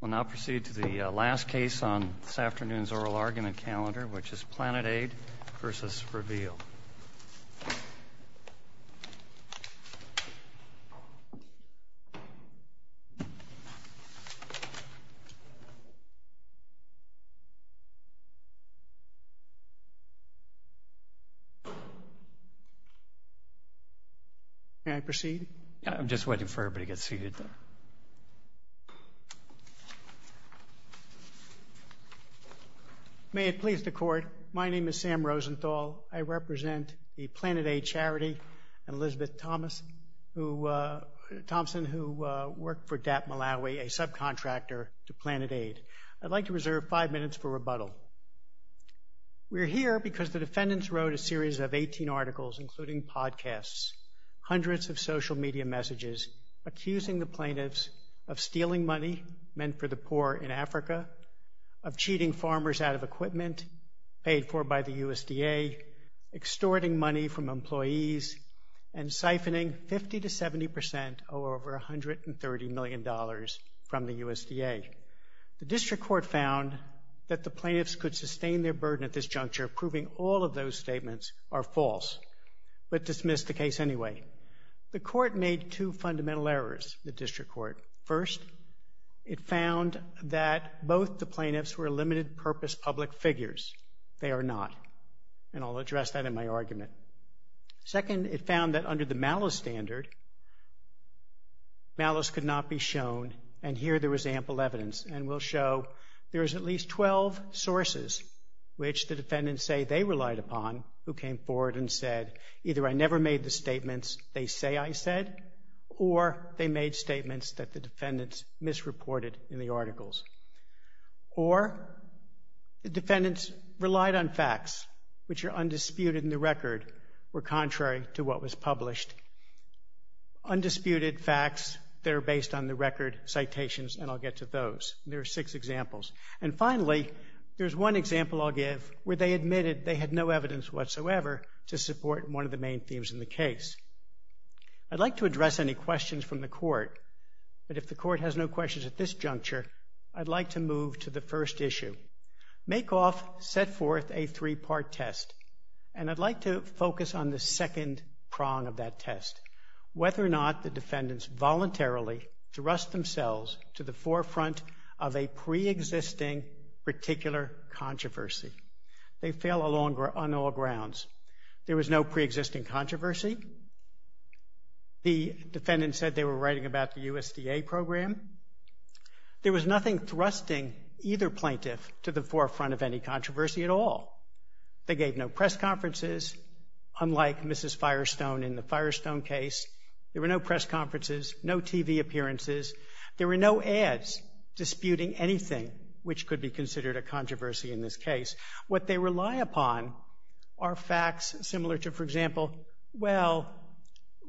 We'll now proceed to the last case on this afternoon's oral argument calendar, which is Planet Aid v. Reveal. May it please the Court, my name is Sam Rosenthal. I represent the Planet Aid charity and Elizabeth Thompson, who worked for DAP Malawi, a subcontractor to Planet Aid. I'd like to reserve five minutes for rebuttal. We're here because the defendants wrote a series of 18 articles, including podcasts, hundreds of social media messages, accusing the plaintiffs of stealing money meant for the poor in Africa, of cheating farmers out of equipment paid for by the USDA, extorting money from employees, and siphoning 50 to 70 percent, or over $130 million, from the USDA. The district court found that the plaintiffs could sustain their burden at this juncture, proving all of those statements are false, but dismissed the case anyway. The court made two fundamental errors, the district court. First, it found that both the plaintiffs were limited-purpose public figures. They are not, and I'll address that in my argument. Second, it found that under the malice standard, malice could not be shown, and here there was ample evidence. And we'll show there's at least 12 sources which the defendants say they relied upon who came forward and said, either I never made the statements they say I said, or they made statements that the defendants misreported in the articles, or the defendants relied on facts which are undisputed in the record or contrary to what was published. Undisputed facts that are based on the record, citations, and I'll get to those. There are six examples. And finally, there's one example I'll give where they admitted they had no evidence whatsoever to support one of the main themes in the case. I'd like to address any questions from the court, but if the court has no questions at this juncture, I'd like to move to the first issue. Make off, set forth a three-part test, and I'd like to focus on the second prong of that test, whether or not the defendants voluntarily thrust themselves to the forefront of a pre-existing particular controversy. They fail on all grounds. There was no pre-existing controversy. The defendant said they were writing about the USDA program. There was nothing thrusting either plaintiff to the forefront of any controversy at all. They gave no press conferences, unlike Mrs. Firestone in the Firestone case. There were no press conferences, no TV appearances. There were no ads disputing anything which could be considered a controversy in this case. What they rely upon are facts similar to, for example, well,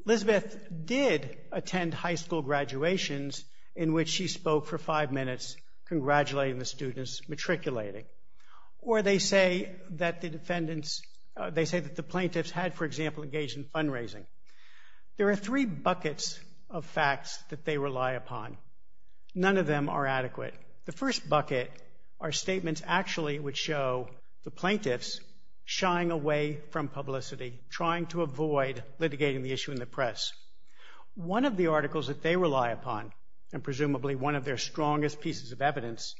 Elizabeth did attend high school graduations in which she spoke for five minutes congratulating the students matriculating, or they say that the plaintiffs had, for example, engaged in fundraising. There are three buckets of facts that they rely upon. None of them are adequate. The first bucket are statements actually which show the plaintiffs shying away from publicity, trying to avoid litigating the issue in the press. One of the articles that they rely upon, and presumably one of their strongest pieces of evidence,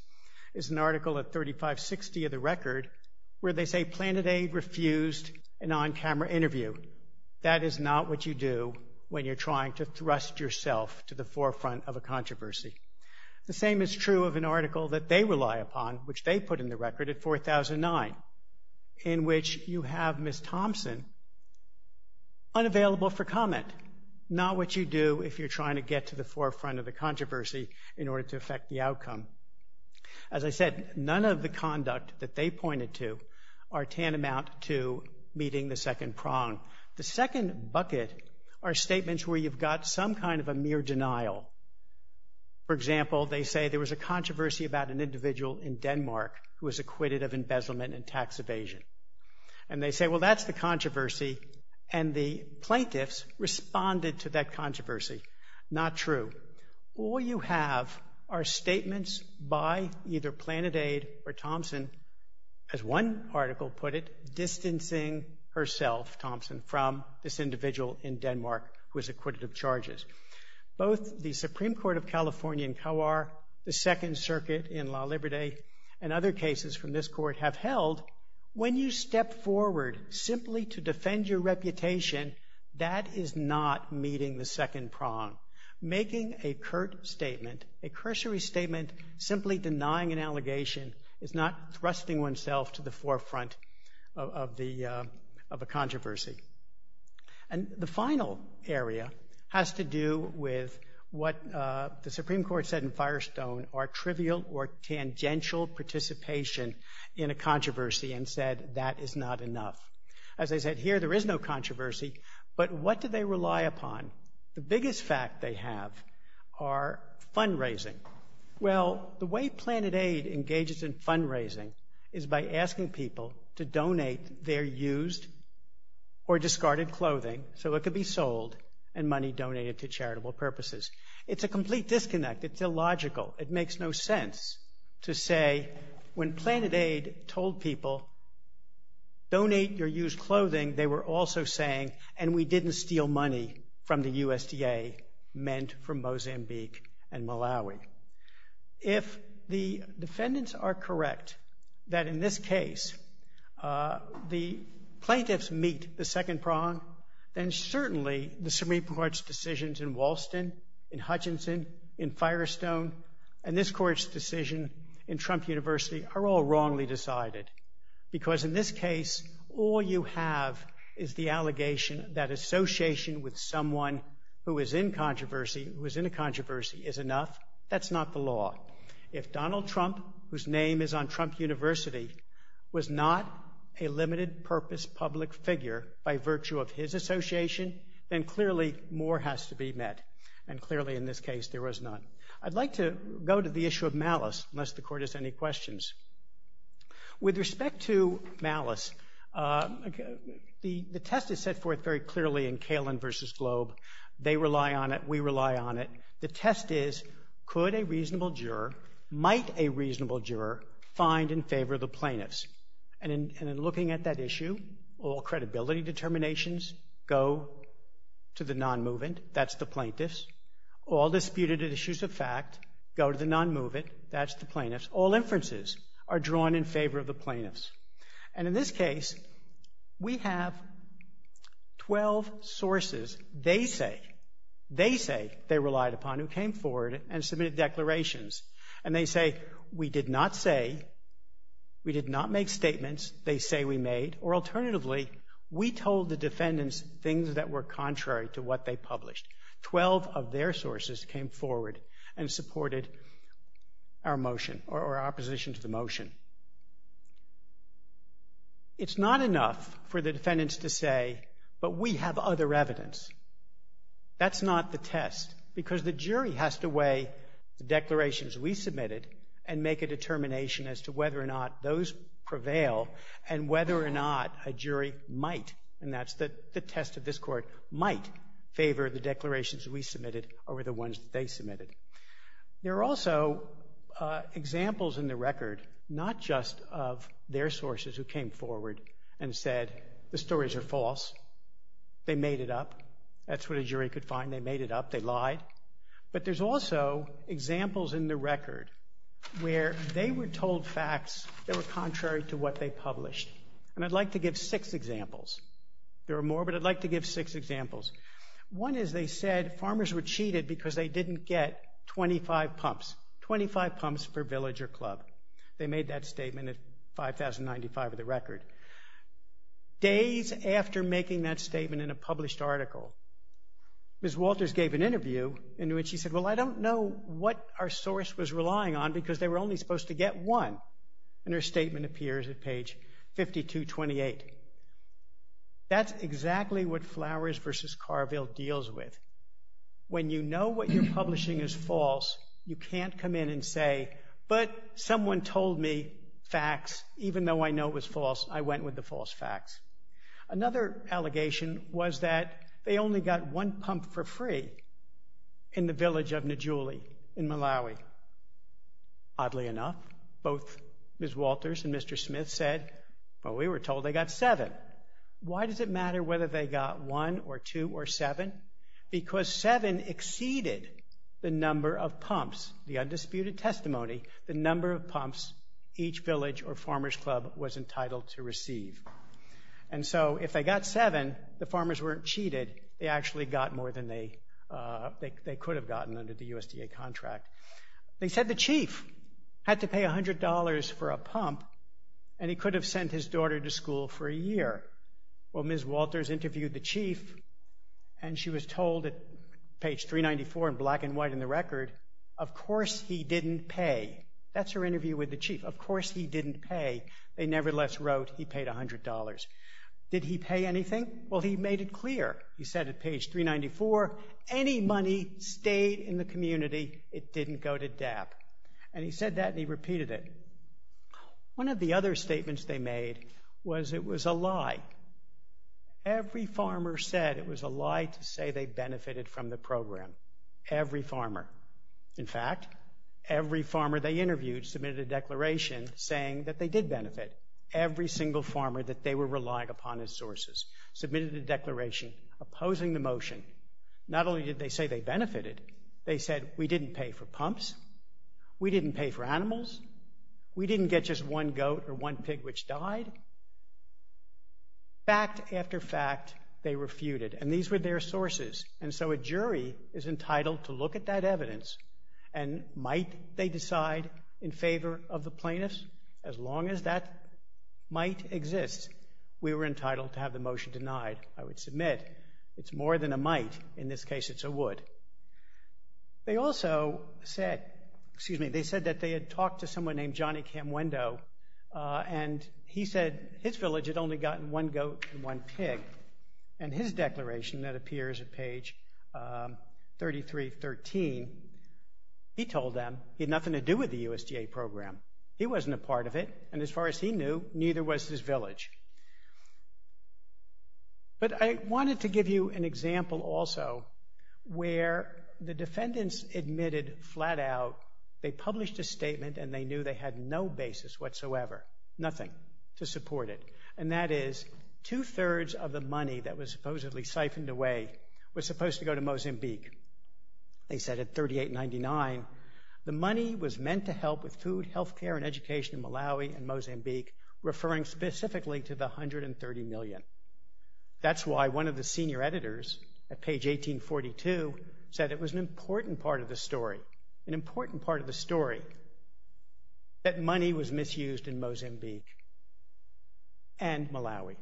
is an article of 3560 of the record where they say Planet Aid refused an on-camera interview. That is not what you do when you're trying to thrust yourself to the forefront of a controversy. The same is true of an article that they rely upon, which they put in the record at 4009, in which you have Ms. Thompson unavailable for comment, not what you do if you're trying to get to the forefront of the controversy in order to affect the outcome. As I said, none of the conduct that they pointed to are tantamount to meeting the second prong. The second bucket are statements where you've got some kind of a mere denial. For example, they say there was a controversy about an individual in Denmark who was acquitted of embezzlement and tax evasion. And they say, well, that's the controversy, and the plaintiffs responded to that controversy. Not true. All you have are statements by either Planet Aid or Thompson, as one article put it, distancing herself, Thompson, from this individual in Denmark who was acquitted of charges. Both the Supreme Court of California in Kawar, the Second Circuit in La Liberté, and other cases from this court have held when you step forward simply to defend your reputation, that is not meeting the second prong. Making a curt statement, a cursory statement, simply denying an allegation is not thrusting oneself to the forefront of a controversy. And the final area has to do with what the Supreme Court said in Firestone are trivial or tangential participation in a controversy and said that is not enough. As I said, here there is no controversy, but what do they rely upon? The biggest fact they have are fundraising. Well, the way Planet Aid engages in fundraising is by asking people to donate their used or discarded clothing so it could be sold and money donated to charitable purposes. It's a complete disconnect. It's illogical. It makes no sense to say when Planet Aid told people, donate your used clothing, they were also saying, and we didn't steal money from the USDA, meant from Mozambique and Malawi. If the defendants are correct that in this case the plaintiffs meet the second prong, then certainly the Supreme Court's decisions in Walston, in Hutchinson, in Firestone, and this court's decision in Trump University are all wrongly decided. Because in this case, all you have is the allegation that association with someone who is in controversy, who is in a controversy, is enough. That's not the law. If Donald Trump, whose name is on Trump University, was not a limited purpose public figure by virtue of his association, then clearly more has to be met. And clearly in this case there was none. I'd like to go to the issue of malice, unless the court has any questions. With respect to malice, the test is set forth very clearly in Kalin versus Globe. They rely on it. We rely on it. The test is, could a reasonable juror, might a reasonable juror, find in favor of the plaintiffs? And in looking at that issue, all credibility determinations go to the non-movement. That's the plaintiffs. All disputed issues of fact go to the non-movement. That's the plaintiffs. All inferences are drawn in favor of the plaintiffs. And in this case, we have 12 sources, they say, they say, they relied upon who came forward and submitted declarations. And they say, we did not say, we did not make statements, they say we made, or alternatively, we told the defendants things that were contrary to what they published. Twelve of their sources came forward and supported our motion, or our opposition to the motion. It's not enough for the defendants to say, but we have other evidence. That's not the test, because the jury has to weigh the declarations we submitted and make a determination as to whether or not those prevail, and whether or not a jury might, and that's the test of this court, might favor the declarations we submitted over the ones they submitted. There are also examples in the record, not just of their sources who came forward and said, the stories are false, they made it up, that's what a jury could find, they made it up, they lied. But there's also examples in the record where they were told facts that were contrary to what they published. And I'd like to give six examples. There are more, but I'd like to give six examples. One is they said, farmers were cheated because they didn't get 25 pumps, 25 pumps per village or club. They made that statement at 5,095 of the record. Days after making that statement in a published article, Ms. Walters gave an interview in which she said, well, I don't know what our source was relying on, because they were only supposed to get one. And her statement appears at page 5,228. That's exactly what Flowers v. Carville deals with. When you know what you're publishing is false, you can't come in and say, but someone told me facts, even though I know it was false, I went with the false facts. Another allegation was that they only got one pump for free in the village of Nijuli in Malawi. Oddly enough, both Ms. Walters and Mr. Smith said, well, we were told they got seven. Why does it matter whether they got one or two or seven? Because seven exceeded the number of pumps, the undisputed testimony, the number of pumps each village or farmers club was entitled to receive. And so if they got seven, the farmers weren't cheated, they actually got more than they They said the chief had to pay $100 for a pump, and he could have sent his daughter to school for a year. Well, Ms. Walters interviewed the chief, and she was told at page 394 in black and white in the record, of course he didn't pay. That's her interview with the chief. Of course he didn't pay. They nevertheless wrote he paid $100. Did he pay anything? Well, he made it clear. He said at page 394, any money stayed in the community, it didn't go to DAP. And he said that and he repeated it. One of the other statements they made was it was a lie. Every farmer said it was a lie to say they benefited from the program. Every farmer. In fact, every farmer they interviewed submitted a declaration saying that they did benefit. Every single farmer that they were relying upon as sources submitted a declaration opposing the motion. Not only did they say they benefited, they said we didn't pay for pumps, we didn't pay for animals, we didn't get just one goat or one pig which died. Fact after fact, they refuted. And these were their sources. And so a jury is entitled to look at that evidence, and might they decide in favor of the plaintiffs? As long as that might exist, we were entitled to have the motion denied, I would submit. It's more than a might. In this case, it's a would. They also said, excuse me, they said that they had talked to someone named Johnny Camwendo and he said his village had only gotten one goat and one pig. And his declaration that appears at page 3313, he told them he had nothing to do with the He wasn't a part of it, and as far as he knew, neither was his village. But I wanted to give you an example also where the defendants admitted flat out they published a statement and they knew they had no basis whatsoever, nothing to support it. And that is two-thirds of the money that was supposedly siphoned away was supposed to go to Mozambique. They said at 3899, the money was meant to help with food, health care, and education in Malawi and Mozambique, referring specifically to the 130 million. That's why one of the senior editors at page 1842 said it was an important part of the story, an important part of the story, that money was misused in Mozambique and Malawi.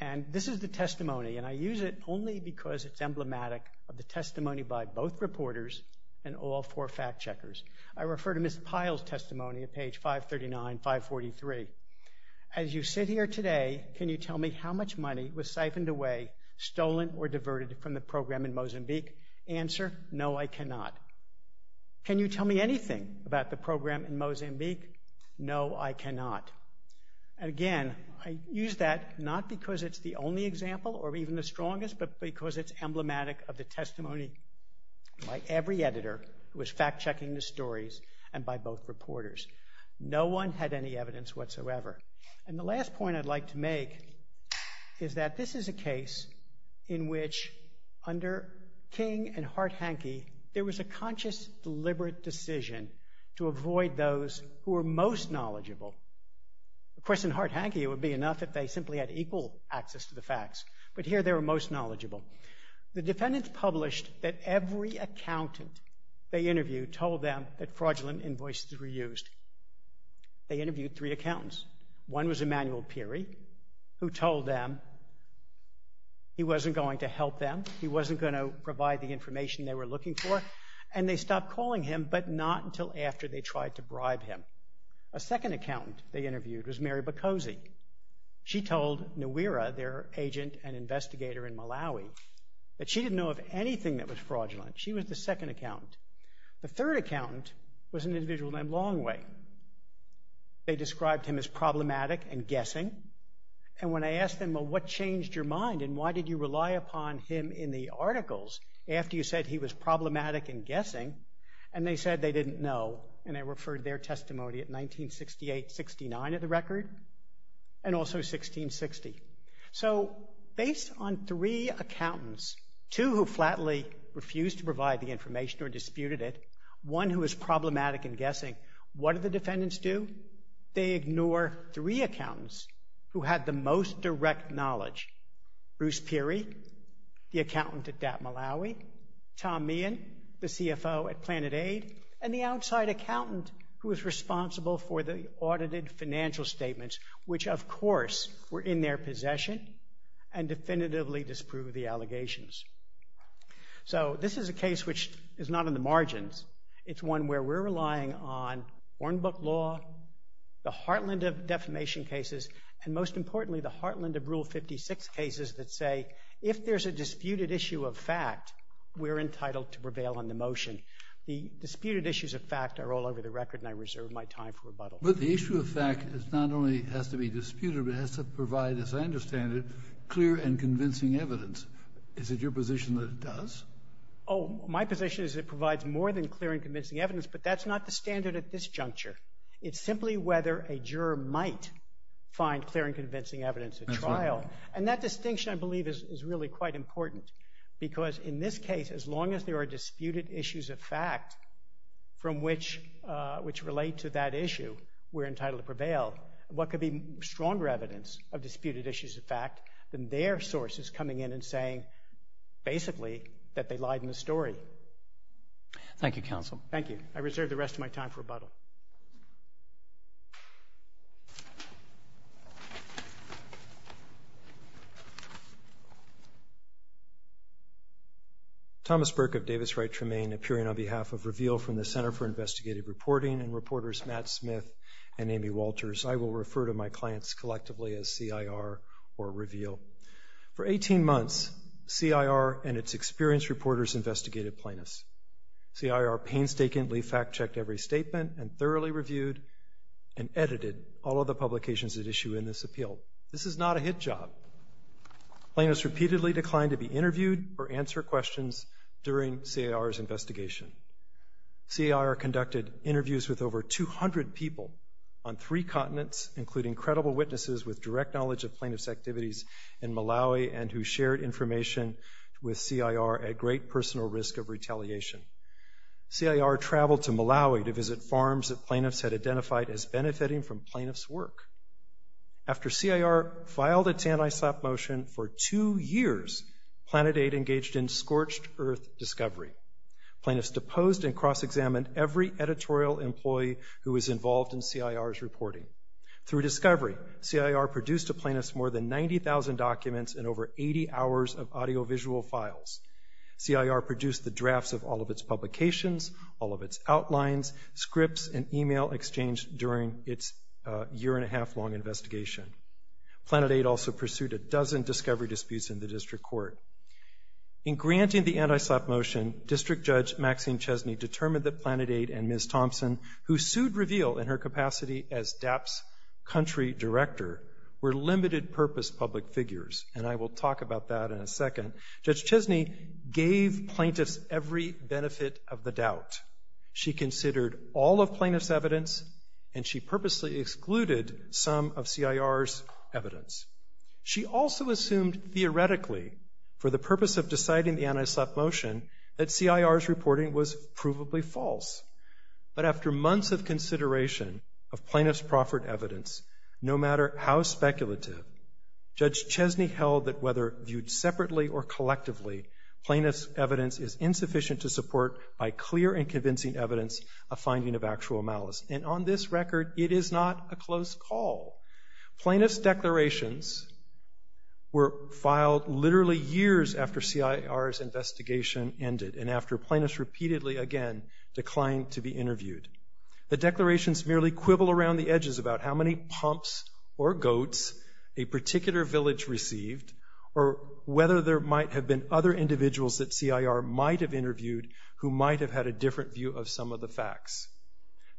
And this is the testimony, and I use it only because it's emblematic of the testimony by both reporters and all four fact-checkers. I refer to Ms. Pyle's testimony at page 539, 543. As you sit here today, can you tell me how much money was siphoned away, stolen, or diverted from the program in Mozambique? Answer, no, I cannot. Can you tell me anything about the program in Mozambique? No, I cannot. And again, I use that not because it's the only example or even the strongest, but because it's emblematic of the testimony by every editor who was fact-checking the stories and by both reporters. No one had any evidence whatsoever. And the last point I'd like to make is that this is a case in which, under King and Hart-Hanke, there was a conscious, deliberate decision to avoid those who were most knowledgeable. Of course, in Hart-Hanke, it would be enough if they simply had equal access to the facts, but here they were most knowledgeable. The defendants published that every accountant they interviewed told them that fraudulent invoices were used. They interviewed three accountants. One was Emmanuel Pirie, who told them he wasn't going to help them, he wasn't going to provide the information they were looking for, and they stopped calling him, but not until after they tried to bribe him. A second accountant they interviewed was Mary Boccozzi. She told Nwira, their agent and investigator in Malawi, that she didn't know of anything that was fraudulent. She was the second accountant. The third accountant was an individual named Longway. They described him as problematic and guessing, and when I asked them, well, what changed your mind, and why did you rely upon him in the articles after you said he was problematic and guessing, and they said they didn't know, and I referred their testimony at 1968-69 at the record, and also 1660. So based on three accountants, two who flatly refused to provide the information or disputed it, one who was problematic and guessing, what did the defendants do? They ignore three accountants who had the most direct knowledge, Bruce Peary, the accountant at DATM Malawi, Tom Meehan, the CFO at PlanetAid, and the outside accountant who was responsible for the audited financial statements, which of course were in their possession and definitively disproved the allegations. So this is a case which is not in the margins. It's one where we're relying on Hornbook law, the heartland of defamation cases, and most importantly the heartland of Rule 56 cases that say if there's a disputed issue of fact, we're entitled to prevail on the motion. The disputed issues of fact are all over the record, and I reserve my time for rebuttal. But the issue of fact not only has to be disputed, but has to provide, as I understand it, clear Is it your position that it does? Oh, my position is it provides more than clear and convincing evidence, but that's not the standard at this juncture. It's simply whether a juror might find clear and convincing evidence at trial. And that distinction, I believe, is really quite important because in this case, as long as there are disputed issues of fact from which relate to that issue, we're entitled to prevail. What could be stronger evidence of disputed issues of fact than their sources coming in and saying, basically, that they lied in the story? Thank you, counsel. Thank you. I reserve the rest of my time for rebuttal. Thomas Burke of Davis Wright Tremaine, appearing on behalf of Reveal from the Center for Investigative Reporting and reporters Matt Smith and Amy Walters. I will refer to my clients collectively as CIR or Reveal. For 18 months, CIR and its experienced reporters investigated plaintiffs. CIR painstakingly fact-checked every statement and thoroughly reviewed and edited all of the publications that issue in this appeal. This is not a hit job. Plaintiffs repeatedly declined to be interviewed or answer questions during CIR's investigation. CIR conducted interviews with over 200 people on three continents, including credible witnesses with direct knowledge of plaintiffs' activities in Malawi and who shared information with CIR at great personal risk of retaliation. CIR traveled to Malawi to visit farms that plaintiffs had identified as benefiting from plaintiffs' work. After CIR filed its anti-slap motion for two years, PlanetAid engaged in scorched earth discovery. Plaintiffs deposed and cross-examined every editorial employee who was involved in CIR's reporting. Through discovery, CIR produced to plaintiffs more than 90,000 documents and over 80 hours of audiovisual files. CIR produced the drafts of all of its publications, all of its outlines, scripts, and email exchanged during its year-and-a-half-long investigation. PlanetAid also pursued a dozen discovery disputes in the district court. In granting the anti-slap motion, District Judge Maxine Chesney determined that PlanetAid and Ms. Thompson, who sued Reveal in her capacity as DAP's country director, were limited-purpose public figures. And I will talk about that in a second. Judge Chesney gave plaintiffs every benefit of the doubt. She considered all of plaintiffs' evidence, and she purposely excluded some of CIR's evidence. She also assumed, theoretically, for the purpose of deciding the anti-slap motion, that CIR's evidence was entirely false. But after months of consideration of plaintiffs' proffered evidence, no matter how speculative, Judge Chesney held that whether viewed separately or collectively, plaintiffs' evidence is insufficient to support, by clear and convincing evidence, a finding of actual malice. And on this record, it is not a close call. Plaintiffs' declarations were filed literally years after CIR's investigation ended and after plaintiffs repeatedly, again, declined to be interviewed. The declarations merely quibble around the edges about how many pumps or goats a particular village received or whether there might have been other individuals that CIR might have interviewed who might have had a different view of some of the facts.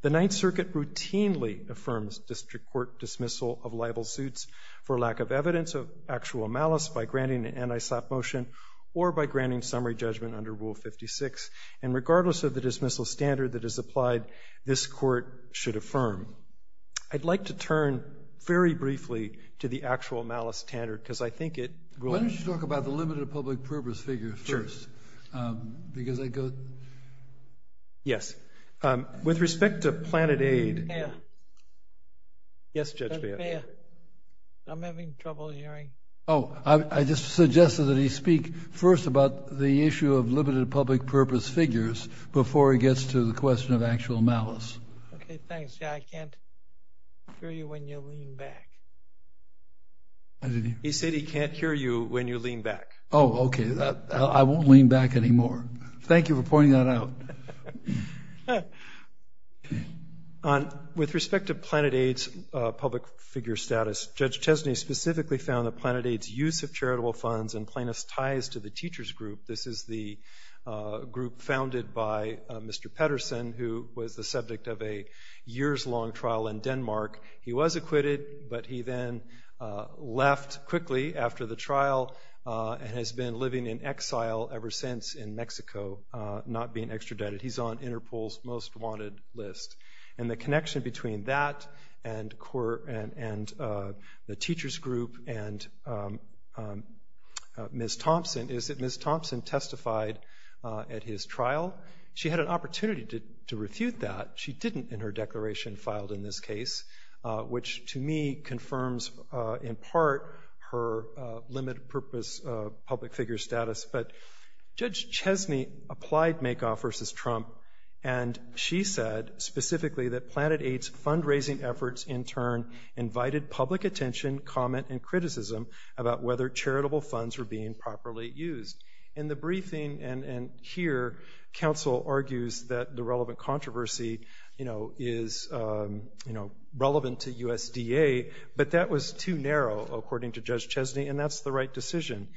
The Ninth Circuit routinely affirms district court dismissal of libel suits for lack of evidence of actual malice by granting an anti-slap motion or by granting summary judgment under Rule 56. And regardless of the dismissal standard that is applied, this court should affirm. I'd like to turn very briefly to the actual malice standard, because I think it will... Why don't you talk about the limited public purpose figure first? Sure. Because I go... Yes. With respect to Planet Aid... Fair. Yes, Judge Baird. That's fair. I'm having trouble hearing. Oh, I just suggested that he speak first about the issue of limited public purpose figures before he gets to the question of actual malice. Okay, thanks. Yeah, I can't hear you when you lean back. He said he can't hear you when you lean back. Oh, okay. I won't lean back anymore. Thank you for pointing that out. With respect to Planet Aid's public figure status, Judge Chesney specifically found that Planet Aid's use of charitable funds and plaintiff's ties to the teachers' group... This is the group founded by Mr. Pedersen, who was the subject of a years-long trial in Denmark. He was acquitted, but he then left quickly after the trial and has been living in exile ever since in Mexico, not being extradited. He's on Interpol's most wanted list. The connection between that and the teachers' group and Ms. Thompson is that Ms. Thompson testified at his trial. She had an opportunity to refute that. She didn't in her declaration filed in this case, which to me confirms in part her limited purpose public figure status. But Judge Chesney applied Makoff versus Trump, and she said specifically that Planet Aid's fundraising efforts in turn invited public attention, comment, and criticism about whether charitable funds were being properly used. In the briefing, and here, counsel argues that the relevant controversy is relevant to USDA, but that was too narrow, according to Judge Chesney, and that's the right decision.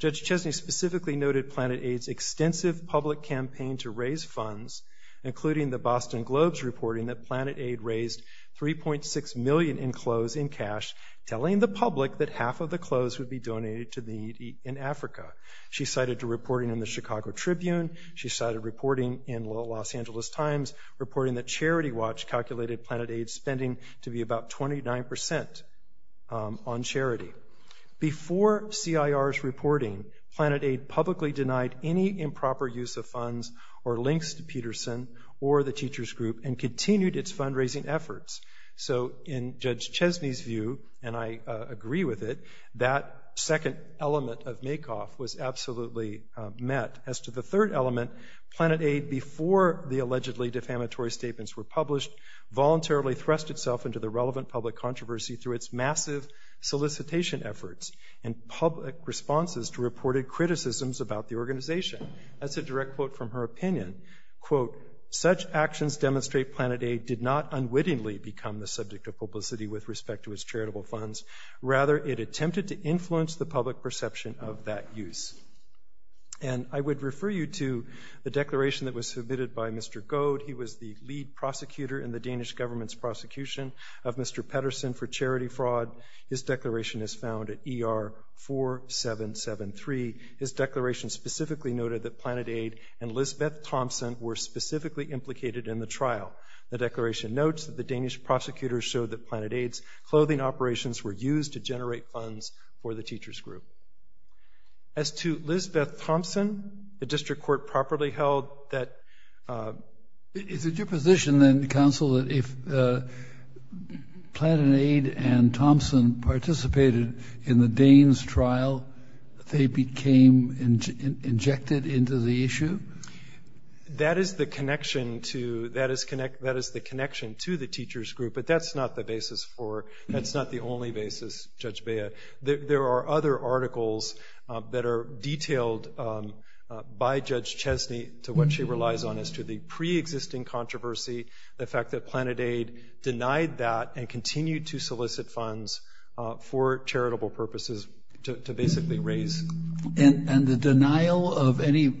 Judge Chesney specifically noted Planet Aid's extensive public campaign to raise funds, including the Boston Globe's reporting that Planet Aid raised $3.6 million in clothes in cash, telling the public that half of the clothes would be donated to the needy in Africa. She cited reporting in the Chicago Tribune. She cited reporting in the Los Angeles Times, reporting that Charity Watch calculated Planet Aid's spending to be about 29% on charity. Before CIR's reporting, Planet Aid publicly denied any improper use of funds or links to Peterson or the teachers group and continued its fundraising efforts. So in Judge Chesney's view, and I agree with it, that second element of Makoff was absolutely met. As to the third element, Planet Aid, before the allegedly defamatory statements were published, voluntarily thrust itself into the relevant public controversy through its massive solicitation efforts and public responses to reported criticisms about the organization. That's a direct quote from her opinion. Quote, such actions demonstrate Planet Aid did not unwittingly become the subject of publicity with respect to its charitable funds. Rather, it attempted to influence the public perception of that use. And I would refer you to the declaration that was submitted by Mr. Goad. He was the lead prosecutor in the Danish government's prosecution of Mr. Peterson for charity fraud. His declaration is found at ER 4773. His declaration specifically noted that Planet Aid and Lisbeth Thompson were specifically implicated in the trial. The declaration notes that the Danish prosecutors showed that Planet Aid's clothing operations were used to generate funds for the teachers group. As to Lisbeth Thompson, the district court properly held that... Is it your position then, counsel, that if Planet Aid and Thompson participated in the Danes' trial, they became injected into the issue? That is the connection to the teachers group, but that's not the basis for... That's not the only basis, Judge Bea. There are other articles that are detailed by Judge Chesney to what she relies on as to the pre-existing controversy, the fact that Planet Aid denied that and continued to solicit funds for charitable purposes to basically raise... And the denial of any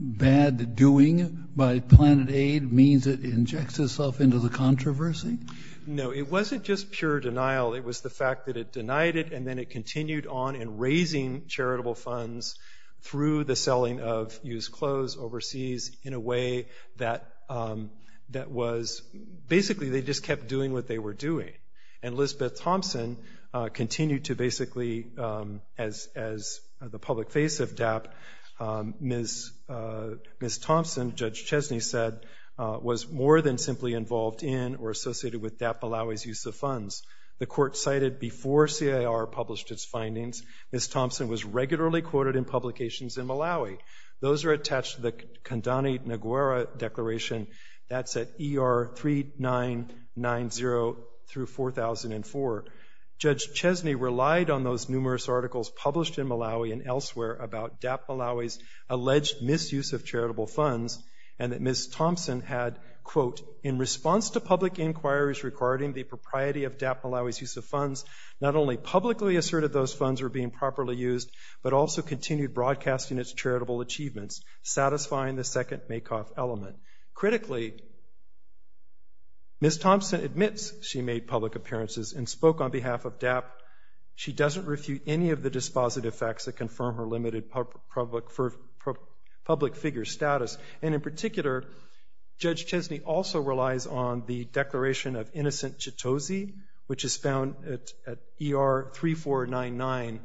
bad doing by Planet Aid means it injects itself into the controversy? No, it wasn't just pure denial. It was the fact that it denied it and then it continued on in raising charitable funds through the selling of used clothes overseas in a way that was... Basically they just kept doing what they were doing. And Lisbeth Thompson continued to basically, as the public face of DAP, Ms. Thompson, Judge Chesney said, was more than simply involved in or associated with DAP Balawi's use of funds. The court cited before CIR published its findings, Ms. Thompson was regularly quoted in publications in Malawi. Those are attached to the Kandani Naguera Declaration, that's at ER 3990 through 4004. Judge Chesney relied on those numerous articles published in Malawi and elsewhere about DAP Balawi's alleged misuse of charitable funds and that Ms. Thompson had, quote, in response to public inquiries regarding the propriety of DAP Balawi's use of funds, not only publicly asserted those funds were being properly used, but also continued broadcasting its charitable achievements, satisfying the second make-off element. Critically, Ms. Thompson admits she made public appearances and spoke on behalf of DAP. She doesn't refute any of the dispositive facts that confirm her limited public figure status. And in particular, Judge Chesney also relies on the Declaration of Innocent Chitose, which is found at ER 3499.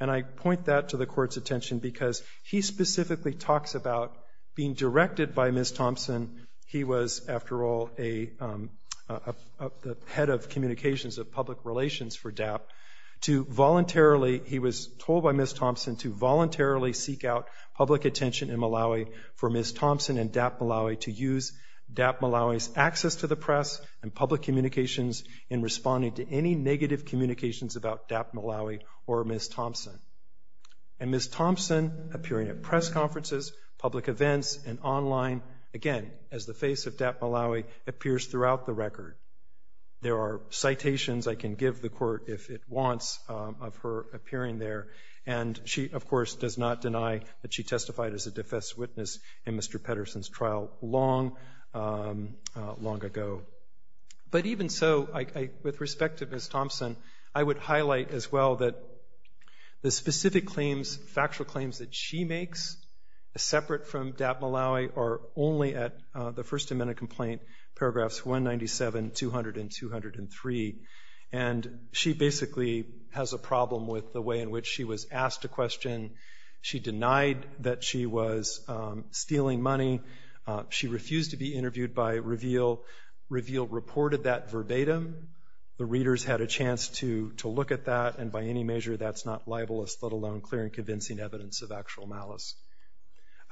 And I point that to the court's attention because he specifically talks about being directed by Ms. Thompson, he was, after all, the head of communications of public relations for DAP, to voluntarily, he was told by Ms. Thompson to voluntarily seek out public attention in Malawi for Ms. Thompson and DAP Balawi to use DAP Balawi's access to the press and public communications in responding to any negative communications about DAP Balawi or Ms. Thompson. And Ms. Thompson appearing at press conferences, public events, and online, again, as the face of DAP Balawi, appears throughout the record. There are citations I can give the court if it wants of her appearing there. And she, of course, does not deny that she testified as a defense witness in Mr. Pedersen's trial long, long ago. But even so, with respect to Ms. Thompson, I would highlight as well that the specific claims, factual claims that she makes separate from DAP Balawi are only at the First Amendment Complaint, paragraphs 197, 200, and 203. And she basically has a problem with the way in which she was asked a question. She denied that she was stealing money. She refused to be interviewed by Reveal. Reveal reported that verbatim. The readers had a chance to look at that, and by any measure, that's not libelous, let alone clear and convincing evidence of actual malice.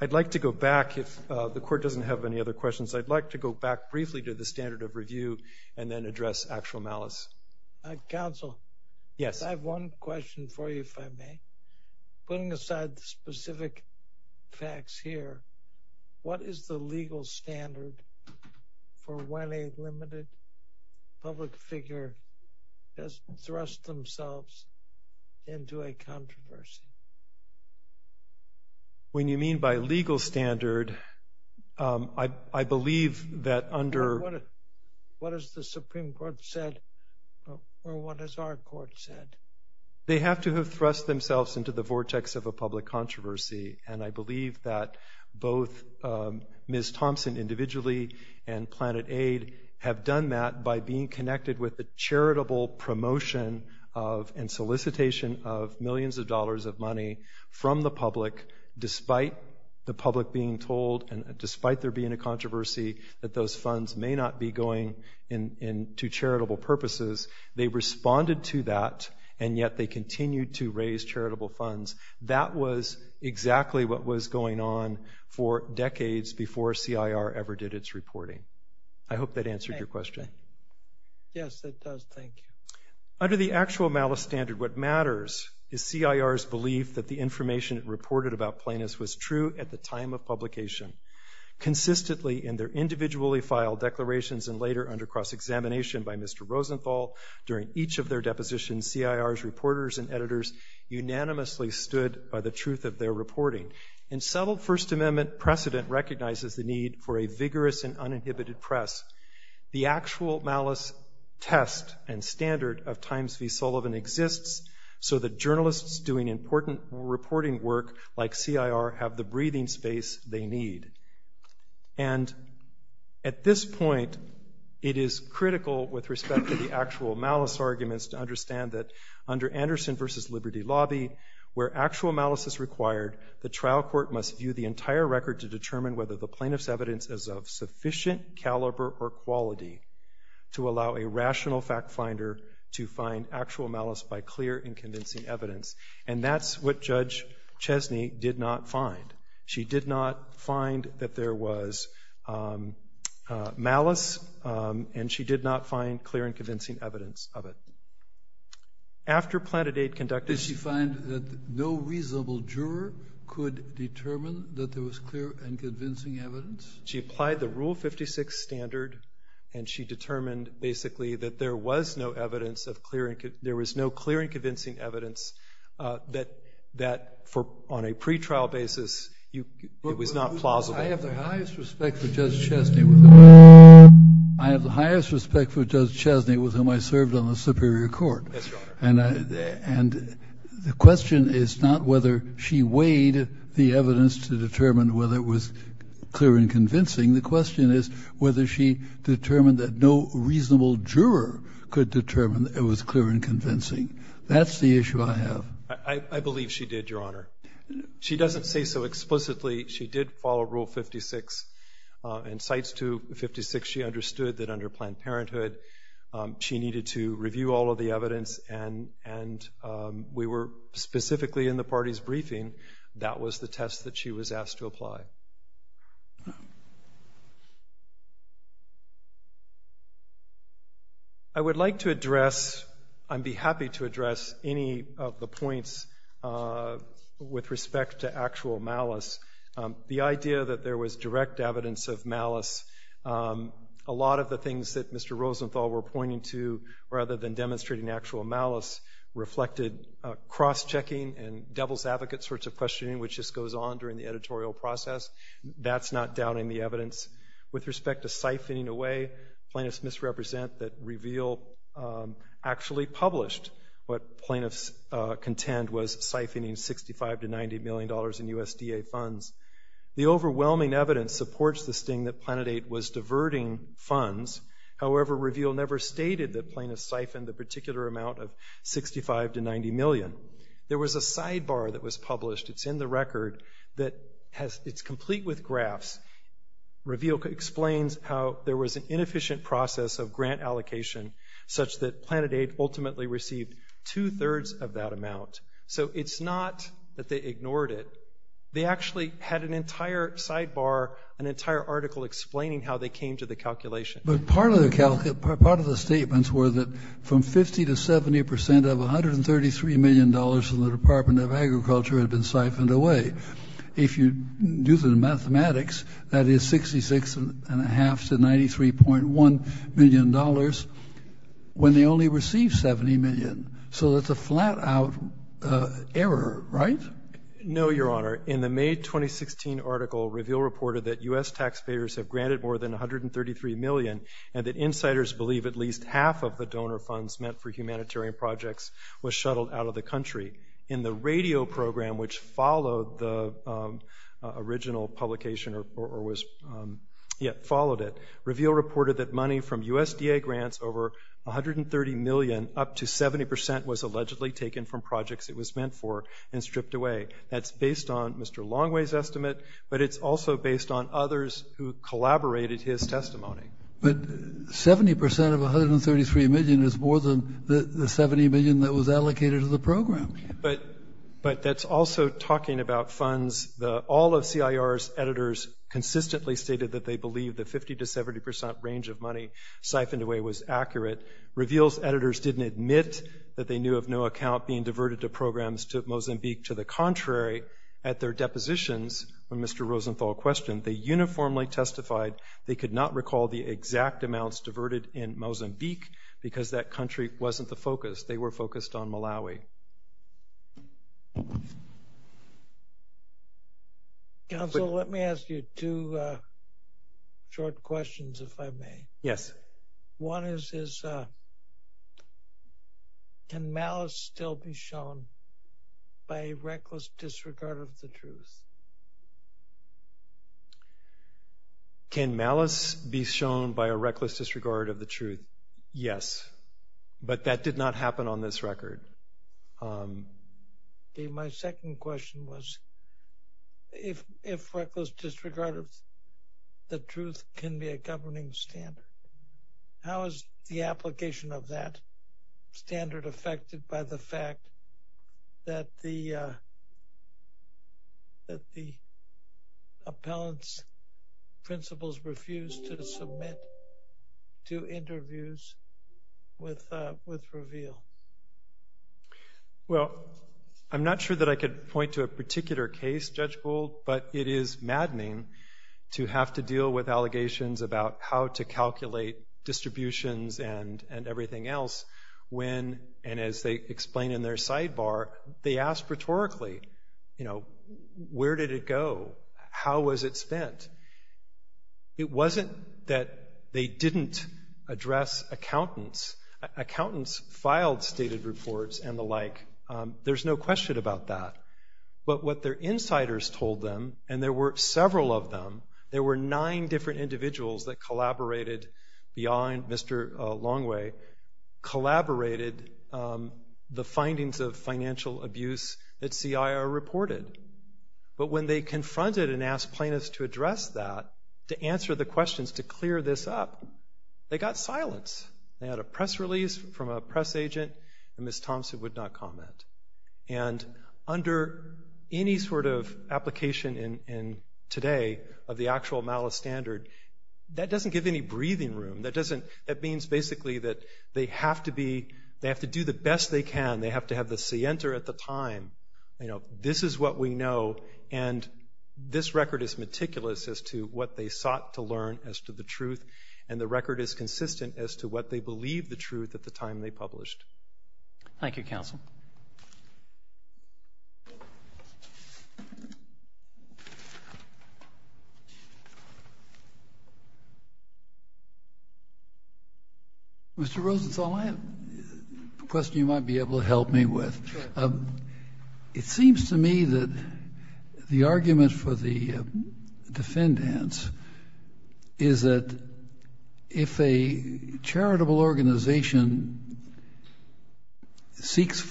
I'd like to go back, if the court doesn't have any other questions, I'd like to go back to the next. Counsel. Yes. I have one question for you, if I may. Putting aside the specific facts here, what is the legal standard for when a limited public figure has thrust themselves into a controversy? When you mean by legal standard, I believe that under... What has the Supreme Court said, or what has our court said? They have to have thrust themselves into the vortex of a public controversy. And I believe that both Ms. Thompson individually and Planet Aid have done that by being connected with the charitable promotion and solicitation of millions of dollars of money from the public, despite the public being told, and despite there being a controversy, that those funds may not be going to charitable purposes. They responded to that, and yet they continued to raise charitable funds. That was exactly what was going on for decades before CIR ever did its reporting. I hope that answered your question. Yes, it does. Thank you. Under the actual malice standard, what matters is CIR's belief that the information reported about Planet Aid was true at the time of publication. Consistently, in their individually filed declarations and later under cross-examination by Mr. Rosenthal, during each of their depositions, CIR's reporters and editors unanimously stood by the truth of their reporting. In subtle First Amendment precedent recognizes the need for a vigorous and uninhibited press. The actual malice test and standard of Times v. Sullivan exists so that journalists doing important reporting work like CIR have the breathing space they need. At this point, it is critical with respect to the actual malice arguments to understand that under Anderson v. Liberty Lobby, where actual malice is required, the trial court must view the entire record to determine whether the plaintiff's evidence is of sufficient caliber or quality to allow a rational fact finder to find actual malice by clear and convincing evidence. And that's what Judge Chesney did not find. She did not find that there was malice and she did not find clear and convincing evidence of it. After Planet Aid conducted... Did she find that no reasonable juror could determine that there was clear and convincing evidence? She applied the Rule 56 standard and she determined, basically, that there was no clear and convincing evidence, that on a pretrial basis, it was not plausible. I have the highest respect for Judge Chesney with whom I served on the Superior Court. And the question is not whether she weighed the evidence to determine whether it was clear and convincing. The question is whether she determined that no reasonable juror could determine that it was clear and convincing. That's the issue I have. I believe she did, Your Honor. She doesn't say so explicitly. She did follow Rule 56 and Cites 256, she understood that under Planned Parenthood, she needed to review all of the evidence and we were specifically in the party's briefing. That was the test that she was asked to apply. Thank you, Your Honor. I would like to address, I'd be happy to address any of the points with respect to actual malice. The idea that there was direct evidence of malice, a lot of the things that Mr. Rosenthal were pointing to, rather than demonstrating actual malice, reflected cross-checking and the editorial process. That's not doubting the evidence. With respect to siphoning away, plaintiffs misrepresent that Reveal actually published what plaintiffs contend was siphoning $65 to $90 million in USDA funds. The overwhelming evidence supports the sting that PlanetAid was diverting funds, however, Reveal never stated that plaintiffs siphoned a particular amount of $65 to $90 million. There was a sidebar that was published. It's in the record that has, it's complete with graphs. Reveal explains how there was an inefficient process of grant allocation such that PlanetAid ultimately received two-thirds of that amount. So it's not that they ignored it, they actually had an entire sidebar, an entire article explaining how they came to the calculation. But part of the statements were that from 50 to 70% of $133 million from the Department of Agriculture had been siphoned away. If you do the mathematics, that is $66.5 to $93.1 million when they only received $70 million. So that's a flat-out error, right? No, Your Honor. In the May 2016 article, Reveal reported that U.S. taxpayers have granted more than $133 million and that insiders believe at least half of the donor funds meant for humanitarian projects was shuttled out of the country. In the radio program which followed the original publication or was, yeah, followed it, Reveal reported that money from USDA grants over $130 million up to 70% was allegedly taken from projects it was meant for and stripped away. That's based on Mr. Longway's estimate, but it's also based on others who collaborated his testimony. But 70% of $133 million is more than the $70 million that was allocated to the program. But that's also talking about funds. All of CIR's editors consistently stated that they believed the 50 to 70% range of money siphoned away was accurate. Reveal's editors didn't admit that they knew of no account being diverted to programs to Mozambique. To the contrary, at their depositions, when Mr. Rosenthal questioned, they uniformly testified they could not recall the exact amounts diverted in Mozambique because that country wasn't the focus. They were focused on Malawi. Counsel, let me ask you two short questions, if I may. Yes. One is, can malice still be shown by a reckless disregard of the truth? Can malice be shown by a reckless disregard of the truth? Yes. But that did not happen on this record. My second question was, if reckless disregard of the truth can be a governing standard, how is the application of that standard affected by the fact that the appellant's principals refused to submit to interviews with Reveal? Well, I'm not sure that I could point to a particular case, Judge Gould, but it is maddening to have to deal with allegations about how to calculate distributions and everything else when, and as they explain in their sidebar, they ask rhetorically, where did it go? How was it spent? It wasn't that they didn't address accountants. Accountants filed stated reports and the like. There's no question about that. But what their insiders told them, and there were several of them, there were nine different individuals that collaborated beyond Mr. Longway, collaborated the findings of financial abuse that CIR reported. But when they confronted and asked plaintiffs to address that, to answer the questions, to clear this up, they got silence. They had a press release from a press agent, and Ms. Thompson would not comment. And under any sort of application today of the actual malice standard, that doesn't give any breathing room. That means basically that they have to do the best they can. They have to have the scienter at the time. You know, this is what we know, and this record is meticulous as to what they sought to learn as to the truth, and the record is consistent as to what they believed the truth at the time they published. Thank you, counsel. Mr. Rosenthal, I have a question you might be able to help me with. Sure. It seems to me that the argument for the defendants is that if a charitable organization seeks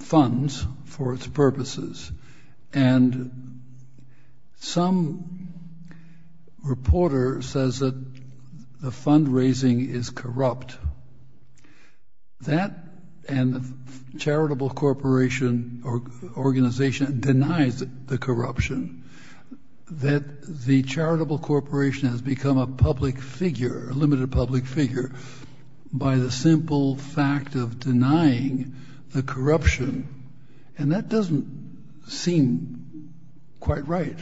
funds for its purposes, and some reporter says that the fundraising is corrupt, that and charitable corporation or organization denies the corruption, that the charitable corporation has become a public figure, a limited public figure, by the simple fact of denying the corruption. And that doesn't seem quite right.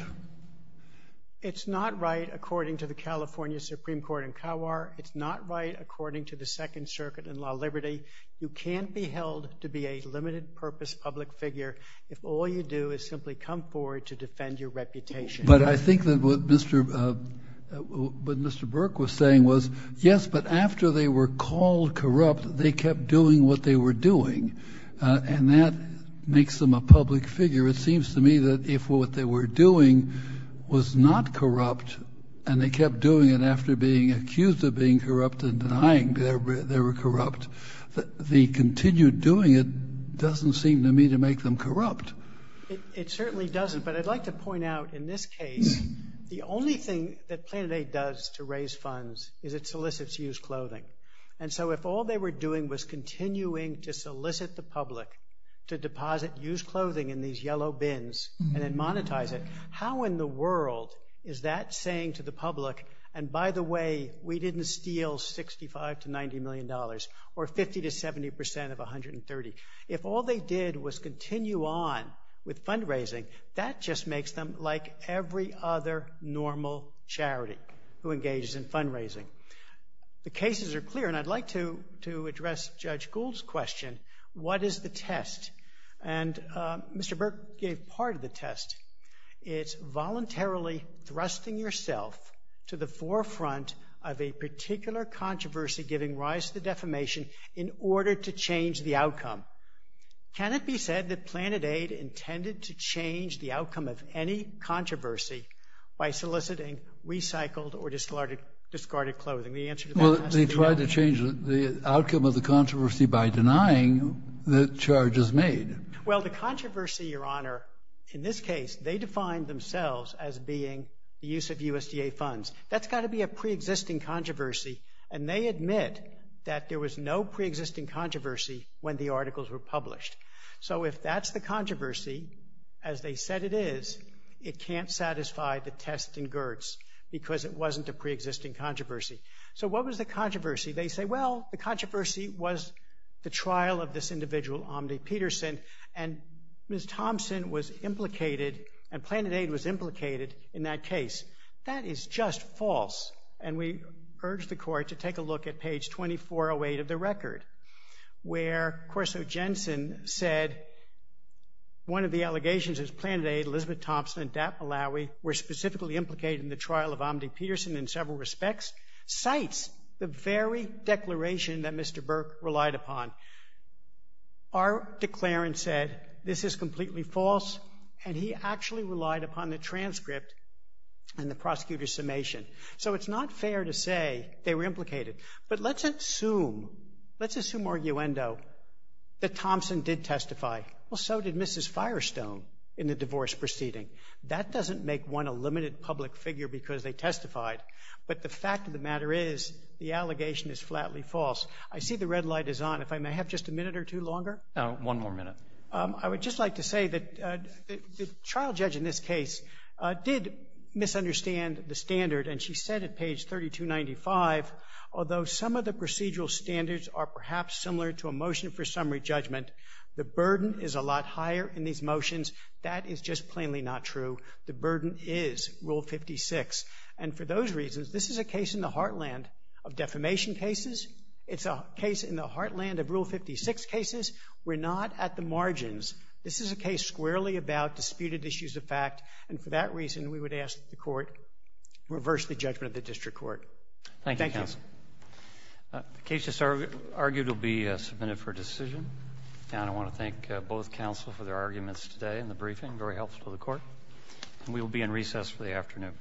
It's not right according to the California Supreme Court in Kawar. It's not right according to the Second Circuit in Law Liberty. You can't be held to be a limited purpose public figure if all you do is simply come forward to defend your reputation. But I think that what Mr. Burke was saying was, yes, but after they were called corrupt, they kept doing what they were doing, and that makes them a public figure. It seems to me that if what they were doing was not corrupt, and they kept doing it after being accused of being corrupt and denying they were corrupt, that the continued doing it doesn't seem to me to make them corrupt. It certainly doesn't. But I'd like to point out in this case, the only thing that Planet Aid does to raise funds is it solicits used clothing. And so if all they were doing was continuing to solicit the public to deposit used clothing in these yellow bins and then monetize it, how in the world is that saying to the public, and by the way, we didn't steal $65 to $90 million, or 50 to 70% of $130 million? If all they did was continue on with fundraising, that just makes them like every other normal charity who engages in fundraising. The cases are clear, and I'd like to address Judge Gould's question, what is the test? It's voluntarily thrusting yourself to the forefront of a particular controversy giving rise to defamation in order to change the outcome. Can it be said that Planet Aid intended to change the outcome of any controversy by soliciting recycled or discarded clothing? The answer to that question is no. Well, they tried to change the outcome of the controversy by denying the charges made. Well, the controversy, Your Honor, in this case, they defined themselves as being the use of USDA funds. That's got to be a pre-existing controversy, and they admit that there was no pre-existing controversy when the articles were published. So if that's the controversy, as they said it is, it can't satisfy the test in Gertz because it wasn't a pre-existing controversy. So what was the controversy? They say, well, the controversy was the trial of this individual, Omdi Peterson, and Ms. Thompson was implicated, and Planet Aid was implicated in that case. That is just false, and we urge the court to take a look at page 2408 of the record where Corso Jensen said one of the allegations is Planet Aid, Elizabeth Thompson, and Dap Malawi were specifically implicated in the trial of Omdi Peterson in several respects, cites the very declaration that Mr. Burke relied upon. Our declarant said this is completely false, and he actually relied upon the transcript and the prosecutor's summation. So it's not fair to say they were implicated, but let's assume, let's assume arguendo that Thompson did testify. Well, so did Mrs. Firestone in the divorce proceeding. That doesn't make one a limited public figure because they testified, but the fact of the matter is the allegation is flatly false. I see the red light is on. If I may have just a minute or two longer? One more minute. I would just like to say that the trial judge in this case did misunderstand the standard, and she said at page 3295, although some of the procedural standards are perhaps similar to a motion for summary judgment, the burden is a lot higher in these motions. That is just plainly not true. The burden is Rule 56. And for those reasons, this is a case in the heartland of defamation cases. It's a case in the heartland of Rule 56 cases. We're not at the margins. This is a case squarely about disputed issues of fact, and for that reason, we would ask the court to reverse the judgment of the district court. Thank you. Thank you, counsel. The case just argued will be submitted for decision. And I want to thank both counsel for their arguments today in the briefing, very helpful to the court. And we will be in recess for the afternoon.